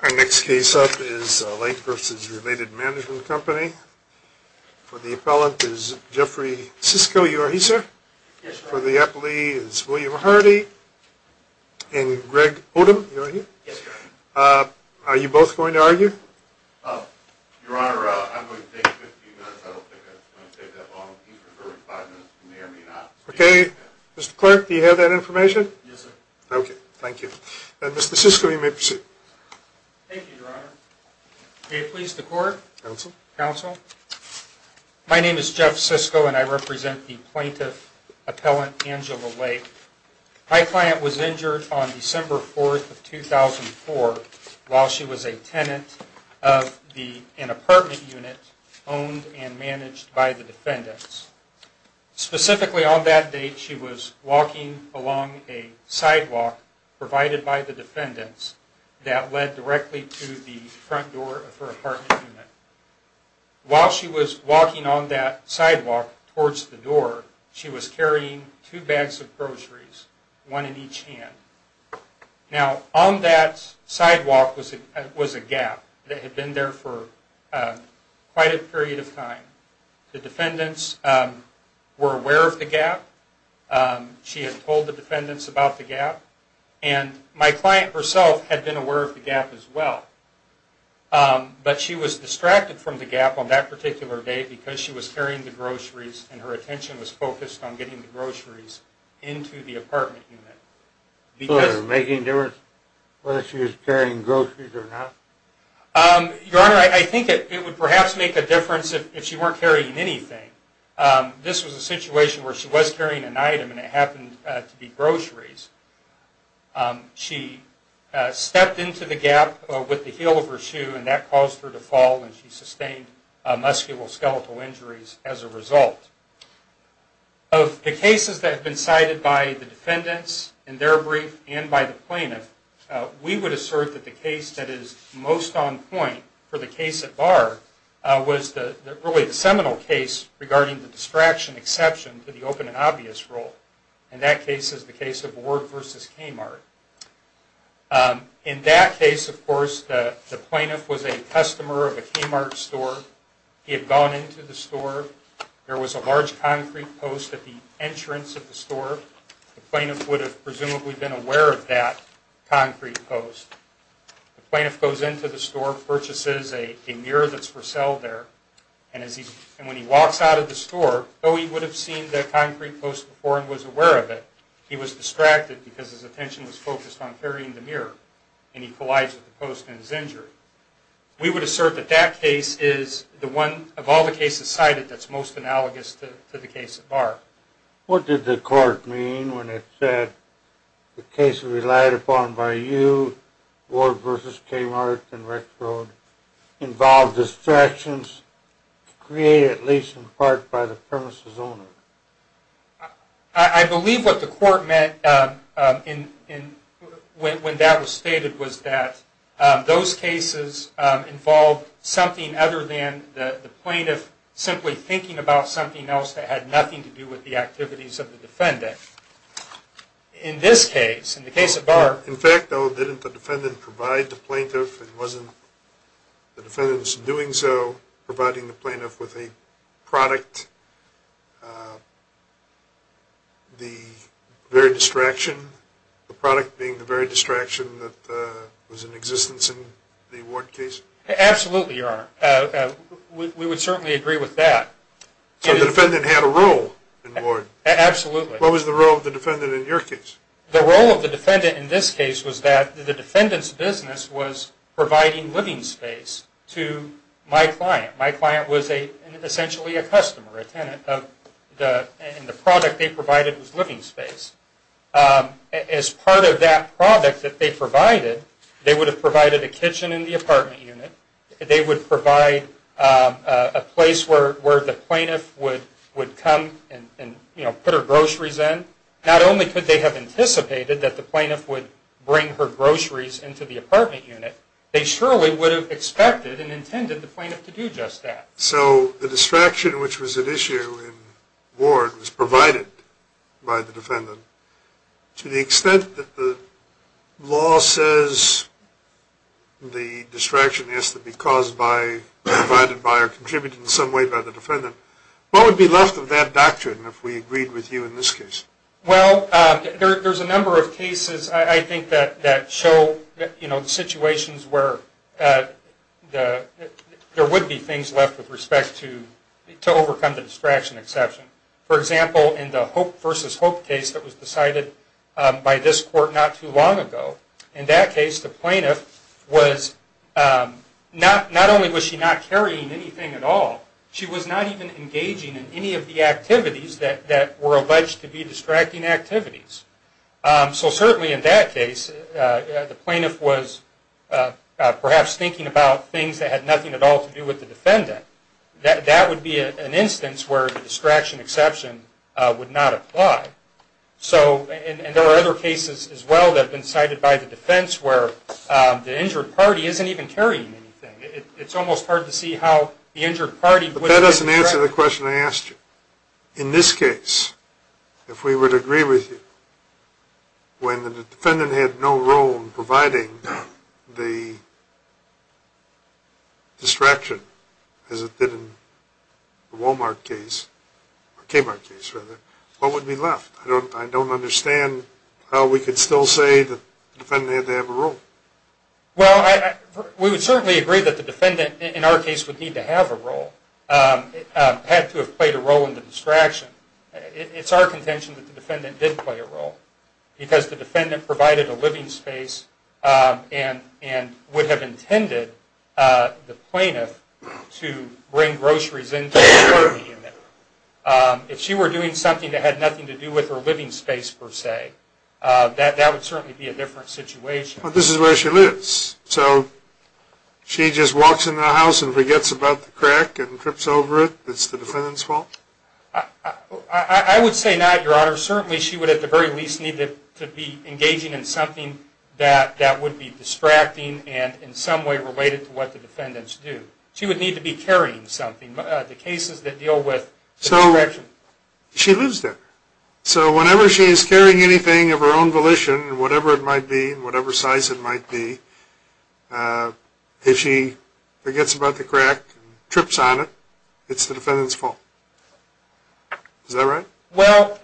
Our next case up is Lake vs. Related Management Company. For the appellant is Jeffrey Sisko. You are he, sir? Yes, sir. For the appellee is William Hardy. And Greg Odom. You are he? Yes, sir. Are you both going to argue? Okay, Mr. Clerk, do you have that information? Yes, sir. Okay. Thank you. Mr. Sisko, you may proceed. Thank you, Your Honor. May it please the court? Counsel? Counsel? My name is Jeff Sisko, and I represent the plaintiff appellant, Angela Lake. My client was injured on December 4th of 2004 while she was a tenant of an apartment unit owned and managed by the defendants. Specifically on that date, she was walking along a sidewalk provided by the defendants that led directly to the front door of her apartment unit. While she was walking on that sidewalk towards the door, she was carrying two bags of groceries, one in each hand. Now, on that sidewalk was a gap that had been there for a while. My client herself was aware of the gap. She had told the defendants about the gap. And my client herself had been aware of the gap as well. But she was distracted from the gap on that particular day because she was carrying the groceries, and her attention was focused on getting the groceries into the apartment unit. So was it making a difference whether she was carrying groceries or not? Your Honor, I think it would perhaps make a difference if she weren't carrying anything. This was a situation where she was carrying an item, and it happened to be groceries. She stepped into the gap with the heel of her shoe, and that caused her to fall, and she sustained musculoskeletal injuries as a result. Of the cases that have been cited by the defendants in their brief and by the plaintiff, we would assert that the case that is most on point for the case at bar was really the seminal case regarding the distraction exception to the open and obvious rule. And that case is the case of Ward v. Kmart. In that case, of course, the plaintiff was a customer of a Kmart store. He had gone into the store. There was a large concrete post at the entrance of the store. The plaintiff would have presumably been aware of that concrete post. The plaintiff goes into the store, purchases a mirror that's for sale there, and when he walks out of the store, though he would have seen that concrete post before and was aware of it, he was distracted because his attention was focused on carrying the mirror, and he collides with the post and is injured. We would assert that that case is the one of all the cases cited that's most analogous to the case at bar. What did the court mean when it said the case relied upon by you Ward v. Kmart and Rick Road involved distractions created at least in part by the premises owner? I believe what the court meant when that was stated was that those cases involved something other than the plaintiff simply thinking about something else that had nothing to do with the activities of the defendant. In this case, in the case at bar... In fact, though, didn't the defendant provide the plaintiff, it wasn't the defendant's doing so, providing the plaintiff with a product, the very distraction, the product being the very distraction that was in existence in the Ward case? Absolutely, Your Honor. We would certainly agree with that. So the defendant had a role in Ward? Absolutely. What was the role of the defendant in your case? The role of the defendant in this case was that the defendant's business was providing living space to my client. My client was essentially a customer, a tenant, and the product they provided was living space. As part of that product that they provided, they would have provided a kitchen in the apartment unit, they would provide a place where the plaintiff would come and put her groceries in. Not only could they have anticipated that the plaintiff would bring her groceries into the apartment unit, they surely would have expected and intended the plaintiff to do just that. So the distraction which was at issue in Ward was provided by the defendant. To the extent that the law says the distraction has to be caused by, provided by, or contributed in some way by the defendant, what would be left of that doctrine if we agreed with you in this case? Well, there's a number of cases I think that show situations where there would be things left with respect to overcome the distraction exception. For example, in the Hope v. Hope case that was decided by this court not too long ago, in that case the plaintiff was, not only was she not carrying anything at all, she was not even engaging in any of the activities that were alleged to be distracting activities. So certainly in that case, the plaintiff was perhaps thinking about things that had nothing at all to do with the defendant. That would be an instance where the distraction exception would not apply. So, and there are other cases as well that have been cited by the defense where the injured party isn't even carrying anything. It's almost hard to see how the injured party would... But that doesn't answer the question I asked you. In this case, if we would agree with you, when the defendant had no role in providing the distraction, as it did in the Wal-Mart case, or Kmart case rather, what would be left? I don't understand how we could still say the defendant had to have a role. Well, we would certainly agree that the defendant in our case would need to have a role, had to have played a role in the distraction. It's our contention that the defendant did play a role. Because the defendant provided a living space, and would have intended the plaintiff to bring groceries into the party unit. If she were doing something that had nothing to do with her living space per se, that would certainly be a different situation. But this is where she lives. So, she just walks in the house and forgets about the crack and trips over it? It's the defendant's fault? I would say not, Your Honor. Certainly, she would at the very least need to be engaging in something that would be distracting and in some way related to what the defendants do. She would need to be carrying something. The cases that deal with distraction. She lives there. So, whenever she is carrying anything of her own volition, whatever it might be, whatever size it might be, if she forgets about the crack and trips on it, it's the defendant's fault? Is that right? Well,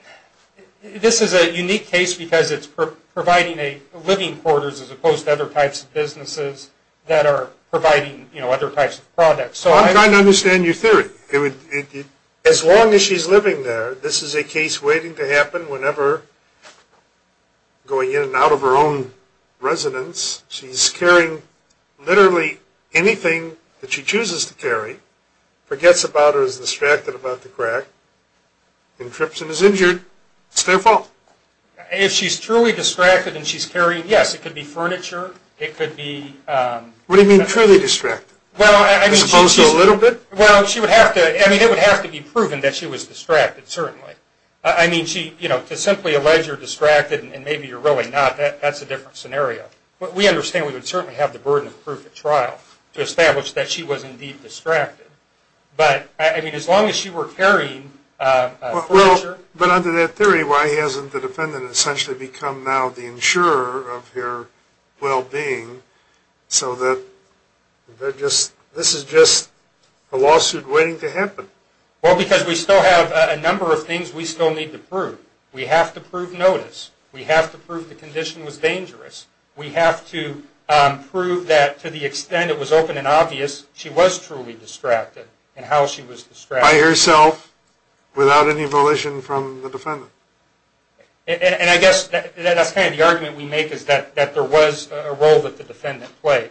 this is a unique case because it's providing a living quarters as opposed to other types of businesses that are providing other types of products. I'm trying to understand your theory. As long as she's living there, this is a case waiting to happen whenever, going in and out of her own residence, she's carrying literally anything that she chooses to carry, forgets about it or is distracted about the crack, and trips and is injured, it's their fault? If she's truly distracted and she's carrying, yes, it could be furniture, it could be... What do you mean truly distracted? Well, I mean, she's... You suppose a little bit? Well, she would have to... I mean, it would have to be proven that she was distracted, certainly. I mean, she, you know, to simply allege you're distracted and maybe you're really not, that's a different scenario. But we understand we would certainly have the burden of proof at trial to establish that she was indeed distracted. But, I mean, as long as she were carrying furniture... But under that theory, why hasn't the defendant essentially become now the insurer of her well-being so that this is just a lawsuit waiting to happen? Well, because we still have a number of things we still need to prove. We have to prove notice. We have to prove the condition was dangerous. She was truly distracted and how she was distracted... By herself without any volition from the defendant. And I guess that's kind of the argument we make is that there was a role that the defendant played.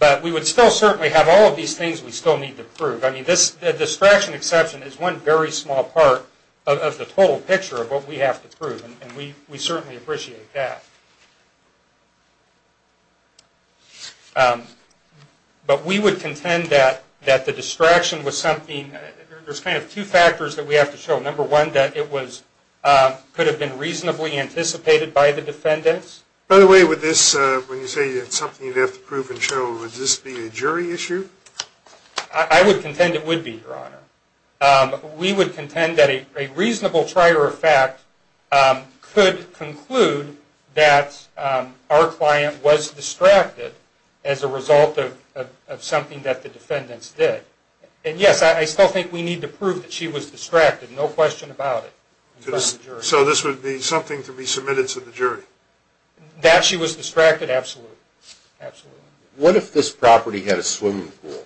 But we would still certainly have all of these things we still need to prove. I mean, this distraction exception is one very small part of the total picture of what we have to prove. And we certainly appreciate that. But we would contend that the distraction was something... There's kind of two factors that we have to show. Number one, that it could have been reasonably anticipated by the defendants. By the way, when you say it's something you'd have to prove and show, would this be a jury issue? I would contend it would be, Your Honor. We would contend that a reasonable trier of fact could conclude that the defendant, that our client was distracted as a result of something that the defendants did. And yes, I still think we need to prove that she was distracted, no question about it. So this would be something to be submitted to the jury? That she was distracted, absolutely. What if this property had a swimming pool?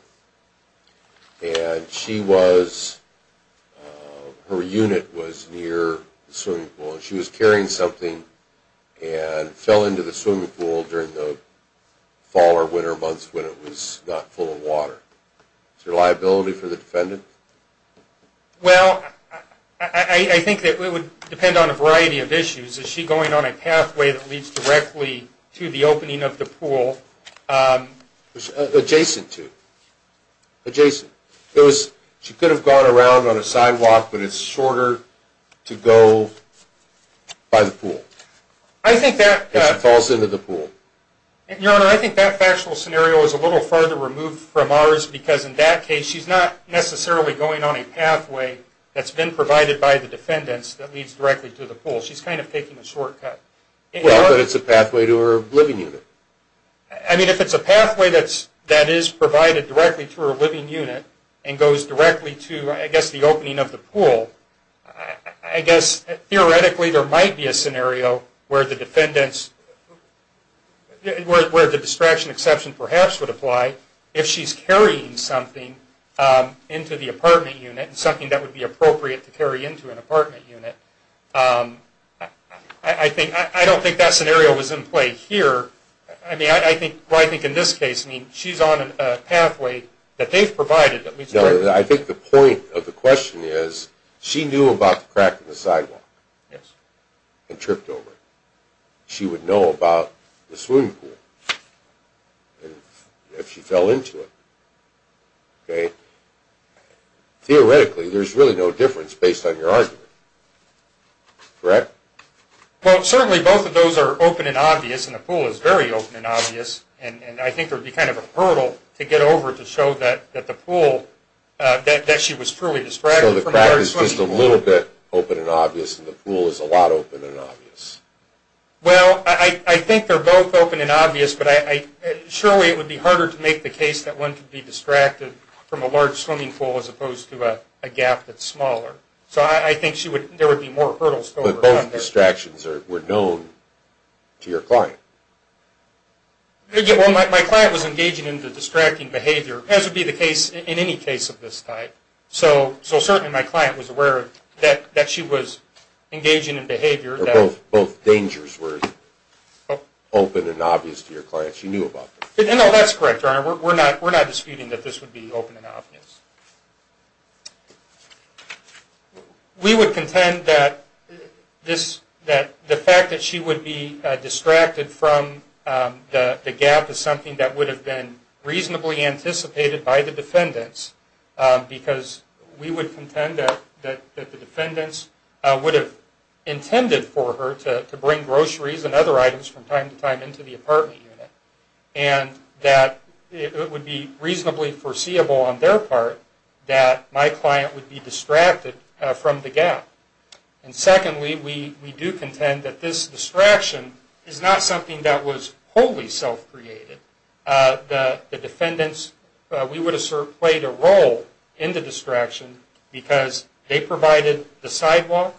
Her unit was near the swimming pool. She was carrying something and fell into the swimming pool during the fall or winter months when it was not full of water. Is there liability for the defendant? Well, I think that it would depend on a variety of issues. Is she going on a pathway that leads directly to the opening of the pool? Adjacent to. Adjacent. She could have gone around on a sidewalk, but it's shorter to go by the pool. If she falls into the pool. Your Honor, I think that factual scenario is a little farther removed from ours because in that case, she's not necessarily going on a pathway that's been provided by the defendants that leads directly to the pool. She's kind of taking a shortcut. Well, but it's a pathway to her living unit. I mean, if it's a pathway that is provided directly to her living unit, and goes directly to, I guess, the opening of the pool, I guess, theoretically, there might be a scenario where the defendant's, where the distraction exception perhaps would apply, if she's carrying something into the apartment unit, something that would be appropriate to carry into an apartment unit. I don't think that scenario was in play here. I mean, I think, well, I think in this case, I mean, she's on a pathway that they've provided. No, I think the point of the question is, she knew about the crack in the sidewalk. Yes. And tripped over it. She would know about the swimming pool. If she fell into it. Okay. Theoretically, there's really no difference based on your argument. Correct? Well, certainly both of those are open and obvious, and the pool is very open and obvious, and I think there would be kind of a hurdle to get over to show that the pool, that she was truly distracted from a large swimming pool. So the crack is just a little bit open and obvious, and the pool is a lot open and obvious. Well, I think they're both open and obvious, but I, surely it would be harder to make the case that one could be distracted from a large swimming pool as opposed to a gap that's smaller. So I think she would, there would be more hurdles to overcome. Both distractions were known to your client. Well, my client was engaging in the distracting behavior, as would be the case in any case of this type. So certainly my client was aware that she was engaging in behavior that... Or both dangers were open and obvious to your client. She knew about them. No, that's correct, Your Honor. We're not disputing that this would be open and obvious. We would contend that this, that the fact that she would be distracted from the gap is something that would have been reasonably anticipated by the defendants, because we would contend that the defendants would have intended for her to bring groceries and other items from time to time into the apartment unit, and that it would be reasonably foreseeable on their part that my client would be distracted from the gap. And secondly, we do contend that this distraction is not something that was wholly self-created. The defendants, we would assert, played a role in the distraction because they provided the sidewalk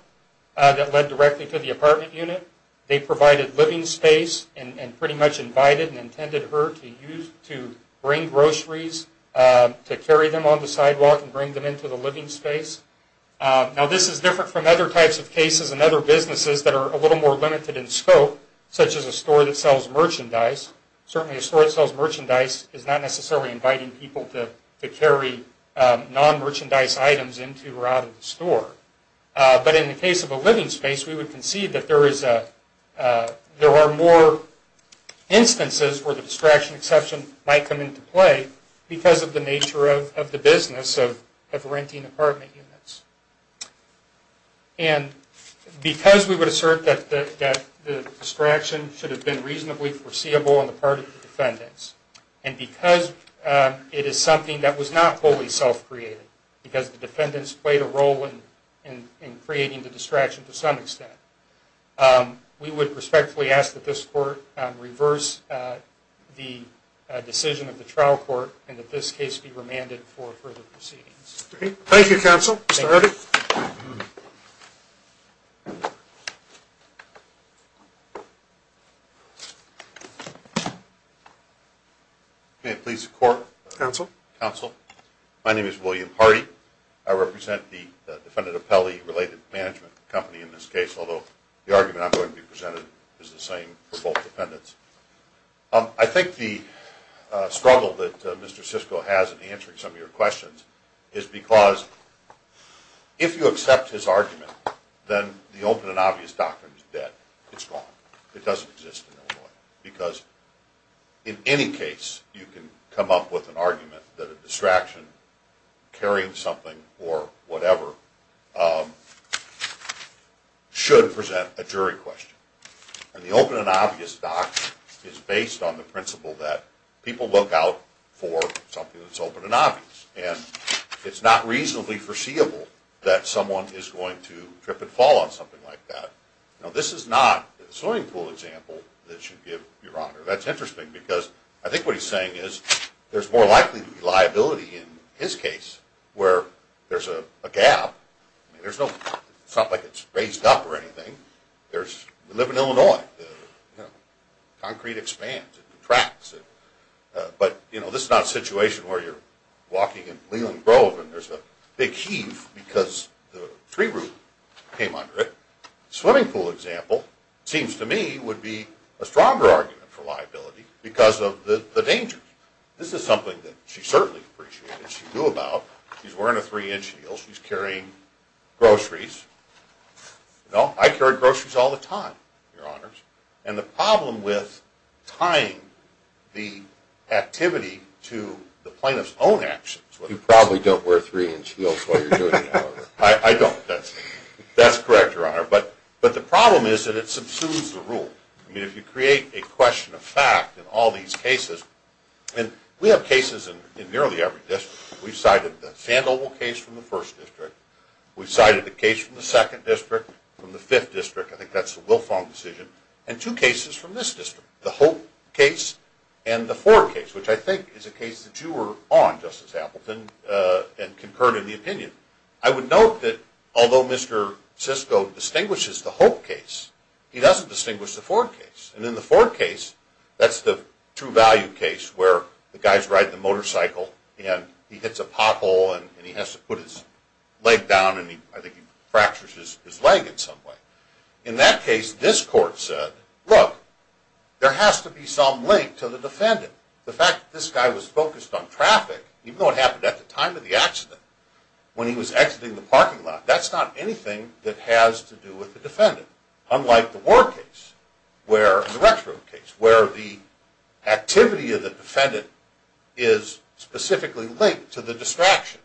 that led directly to the apartment unit. They provided living space and pretty much invited and intended her to use, to bring groceries, to carry them on the sidewalk and bring them into the living space. Now this is different from other types of cases and other businesses that are a little more limited in scope, such as a store that sells merchandise. Certainly a store that sells merchandise is not necessarily inviting people to carry non-merchandise items into or out of the store. But in the case of a living space, we would concede that there are more instances where the distraction exception might come into play because of the nature of the business of renting apartment units. And because we would assert that the distraction should have been reasonably foreseeable on the part of the defendants, and because it is something that was not wholly self-created, because the defendants played a role in creating the distraction to some extent, we would respectfully ask that this Court reverse the decision of the trial court and that this case be remanded for further proceedings. Thank you, Counsel. Mr. Hardy. May it please the Court. Counsel. Counsel. My name is William Hardy. I represent the Defendant Appellee-Related Management Company in this case, although the argument I'm going to be presenting is the same for both defendants. I think the struggle that Mr. Siscoe has in answering some of your questions is because if you accept his argument, then the open and obvious doctrine is that it's wrong. It doesn't exist in Illinois. Because in any case, you can come up with an argument that a distraction carrying something or whatever should present a jury question. And the open and obvious doctrine is based on the principle that people look out for something that's open and obvious. And it's not reasonably foreseeable that someone is going to trip and fall on something like that. Now, this is not a swimming pool example that should give your honor. That's interesting because I think what he's saying is there's more likely to be liability in his case where there's a gap. I mean, it's not like it's raised up or anything. We live in Illinois. Concrete expands and contracts. But this is not a situation where you're walking in Leland Grove and there's a big heave because the tree root came under it. A swimming pool example, it seems to me, would be a stronger argument for liability because of the danger. This is something that she certainly appreciated. She knew about. She's wearing a three-inch heel. She's carrying groceries. No, I carry groceries all the time, your honors. And the problem with tying the activity to the plaintiff's own actions... You probably don't wear three-inch heels while you're doing that. I don't. That's correct, your honor. But the problem is that it subsumes the rule. I mean, if you create a question of fact in all these cases... And we have cases in nearly every district. We've cited the Sandoval case from the 1st District. We've cited a case from the 2nd District, from the 5th District. I think that's the Wilfong decision. And two cases from this district. The Hope case and the Ford case, which I think is a case that you were on, Justice Appleton, and concurred in the opinion. I would note that although Mr. Siscoe distinguishes the Hope case, he doesn't distinguish the Ford case. And in the Ford case, that's the true value case where the guy's riding a motorcycle, and he hits a pothole, and he has to put his leg down, and I think he fractures his leg in some way. In that case, this court said, look, there has to be some link to the defendant. The fact that this guy was focused on traffic, even though it happened at the time of the accident, when he was exiting the parking lot, that's not anything that has to do with the defendant. Unlike the Ward case, and the Rexford case, where the activity of the defendant is specifically linked to the distraction.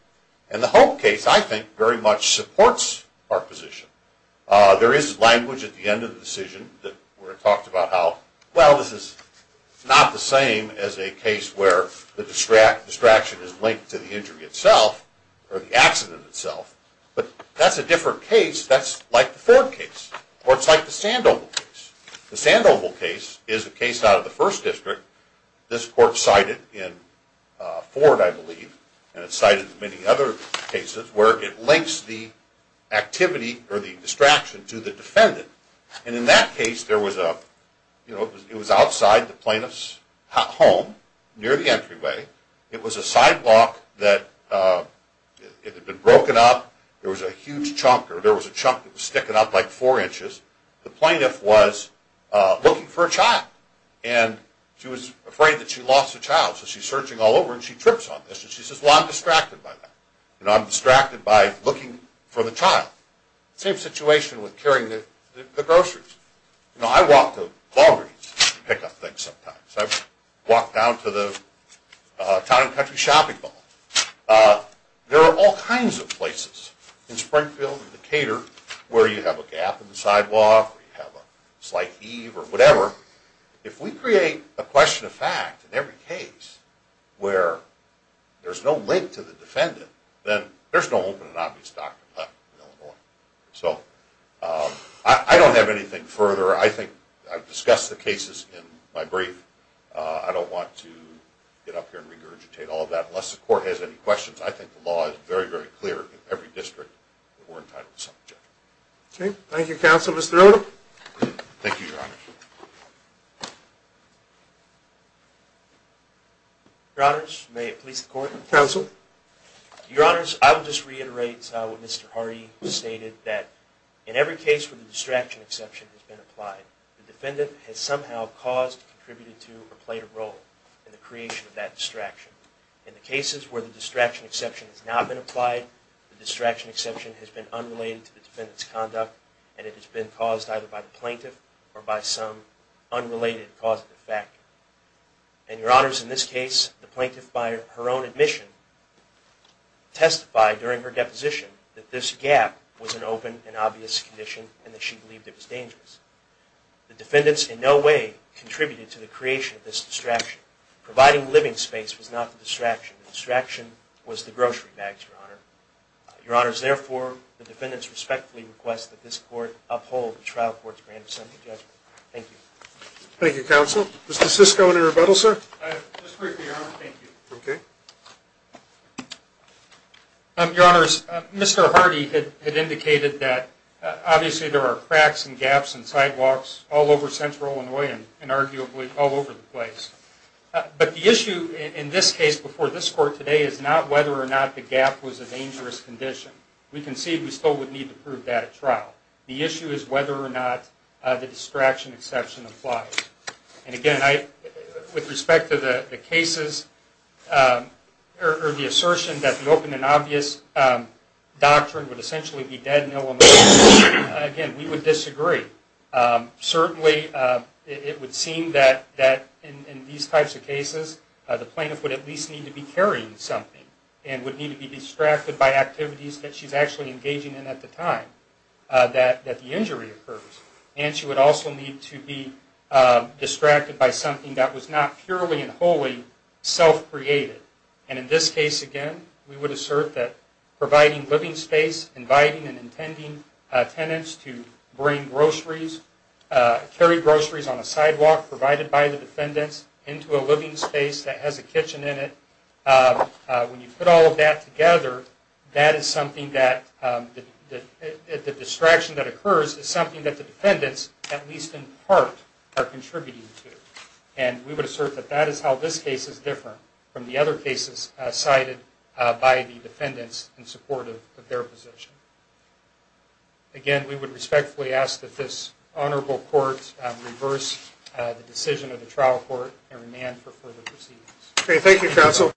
And the Hope case, I think, very much supports our position. There is language at the end of the decision where it talks about how, well, this is not the same as a case where the distraction is linked to the injury itself, or the accident itself. But that's a different case. That's like the Ford case. Or it's like the Sandoval case. The Sandoval case is a case out of the First District. This court cited in Ford, I believe, and it's cited in many other cases, where it links the activity, or the distraction, to the defendant. And in that case, it was outside the plaintiff's home, near the entryway. It was a sidewalk that had been broken up. There was a huge chunk, or there was a chunk that was sticking up like four inches. The plaintiff was looking for a child. And she was afraid that she lost a child. So she's searching all over, and she trips on this. And she says, well, I'm distracted by that. You know, I'm distracted by looking for the child. Same situation with carrying the groceries. You know, I walk to Walgreens to pick up things sometimes. I've walked down to the town and country shopping mall. There are all kinds of places, in Springfield, in Decatur, where you have a gap in the sidewalk, or you have a slight heave, or whatever. If we create a question of fact in every case, where there's no link to the defendant, then there's no open and obvious doctor in Illinois. So, I don't have anything further. I think I've discussed the cases in my brief. I don't want to get up here and regurgitate all of that. Unless the court has any questions, I think the law is very, very clear in every district that we're entitled to subject. Okay. Thank you, counsel. Mr. Odom. Thank you, Your Honor. Your Honors, may it please the court. Counsel. Your Honors, I will just reiterate what Mr. Hardy stated, that in every case where the distraction exception has been applied, the defendant has somehow caused, contributed to, or played a role in the creation of that distraction. In the cases where the distraction exception has not been applied, the distraction exception has been unrelated to the defendant's conduct, and it has been caused either by the plaintiff, or by some unrelated causative factor. And, Your Honors, in this case, the plaintiff, by her own admission, testified during her deposition, that this gap was an open and obvious condition, and that she believed it was dangerous. The defendants in no way contributed to the creation of this distraction. Providing living space was not the distraction. The distraction was the grocery bags, Your Honor. Your Honors, therefore, the defendants respectfully request that this court uphold the trial court's grand assembly judgment. Thank you. Thank you, counsel. Mr. Siscoe, any rebuttal, sir? Just briefly, Your Honor. Thank you. Okay. Your Honors, Mr. Hardy had indicated that, obviously, there are cracks and gaps and sidewalks all over Central Illinois, and arguably all over the place. But the issue in this case, before this court today, is not whether or not the gap was a dangerous condition. We concede we still would need to prove that at trial. The issue is whether or not the distraction exception applies. And again, with respect to the cases, or the assertion that the open and obvious doctrine would essentially be dead, no emotion, again, we would disagree. Certainly, it would seem that in these types of cases, the plaintiff would at least need to be carrying something, and would need to be distracted by activities that she's actually engaging in at the time that the injury occurs. And she would also need to be distracted by something that was not purely and wholly self-created. And in this case, again, we would assert that providing living space, inviting and intending tenants to bring groceries, carry groceries on the sidewalk provided by the defendants, into a living space that has a kitchen in it, when you put all of that together, the distraction that occurs is something that the defendants, at least in part, are contributing to. And we would assert that that is how this case is different from the other cases cited by the defendants in support of their position. Again, we would respectfully ask that this Honorable Court reverse the decision of the trial court and remand for further proceedings.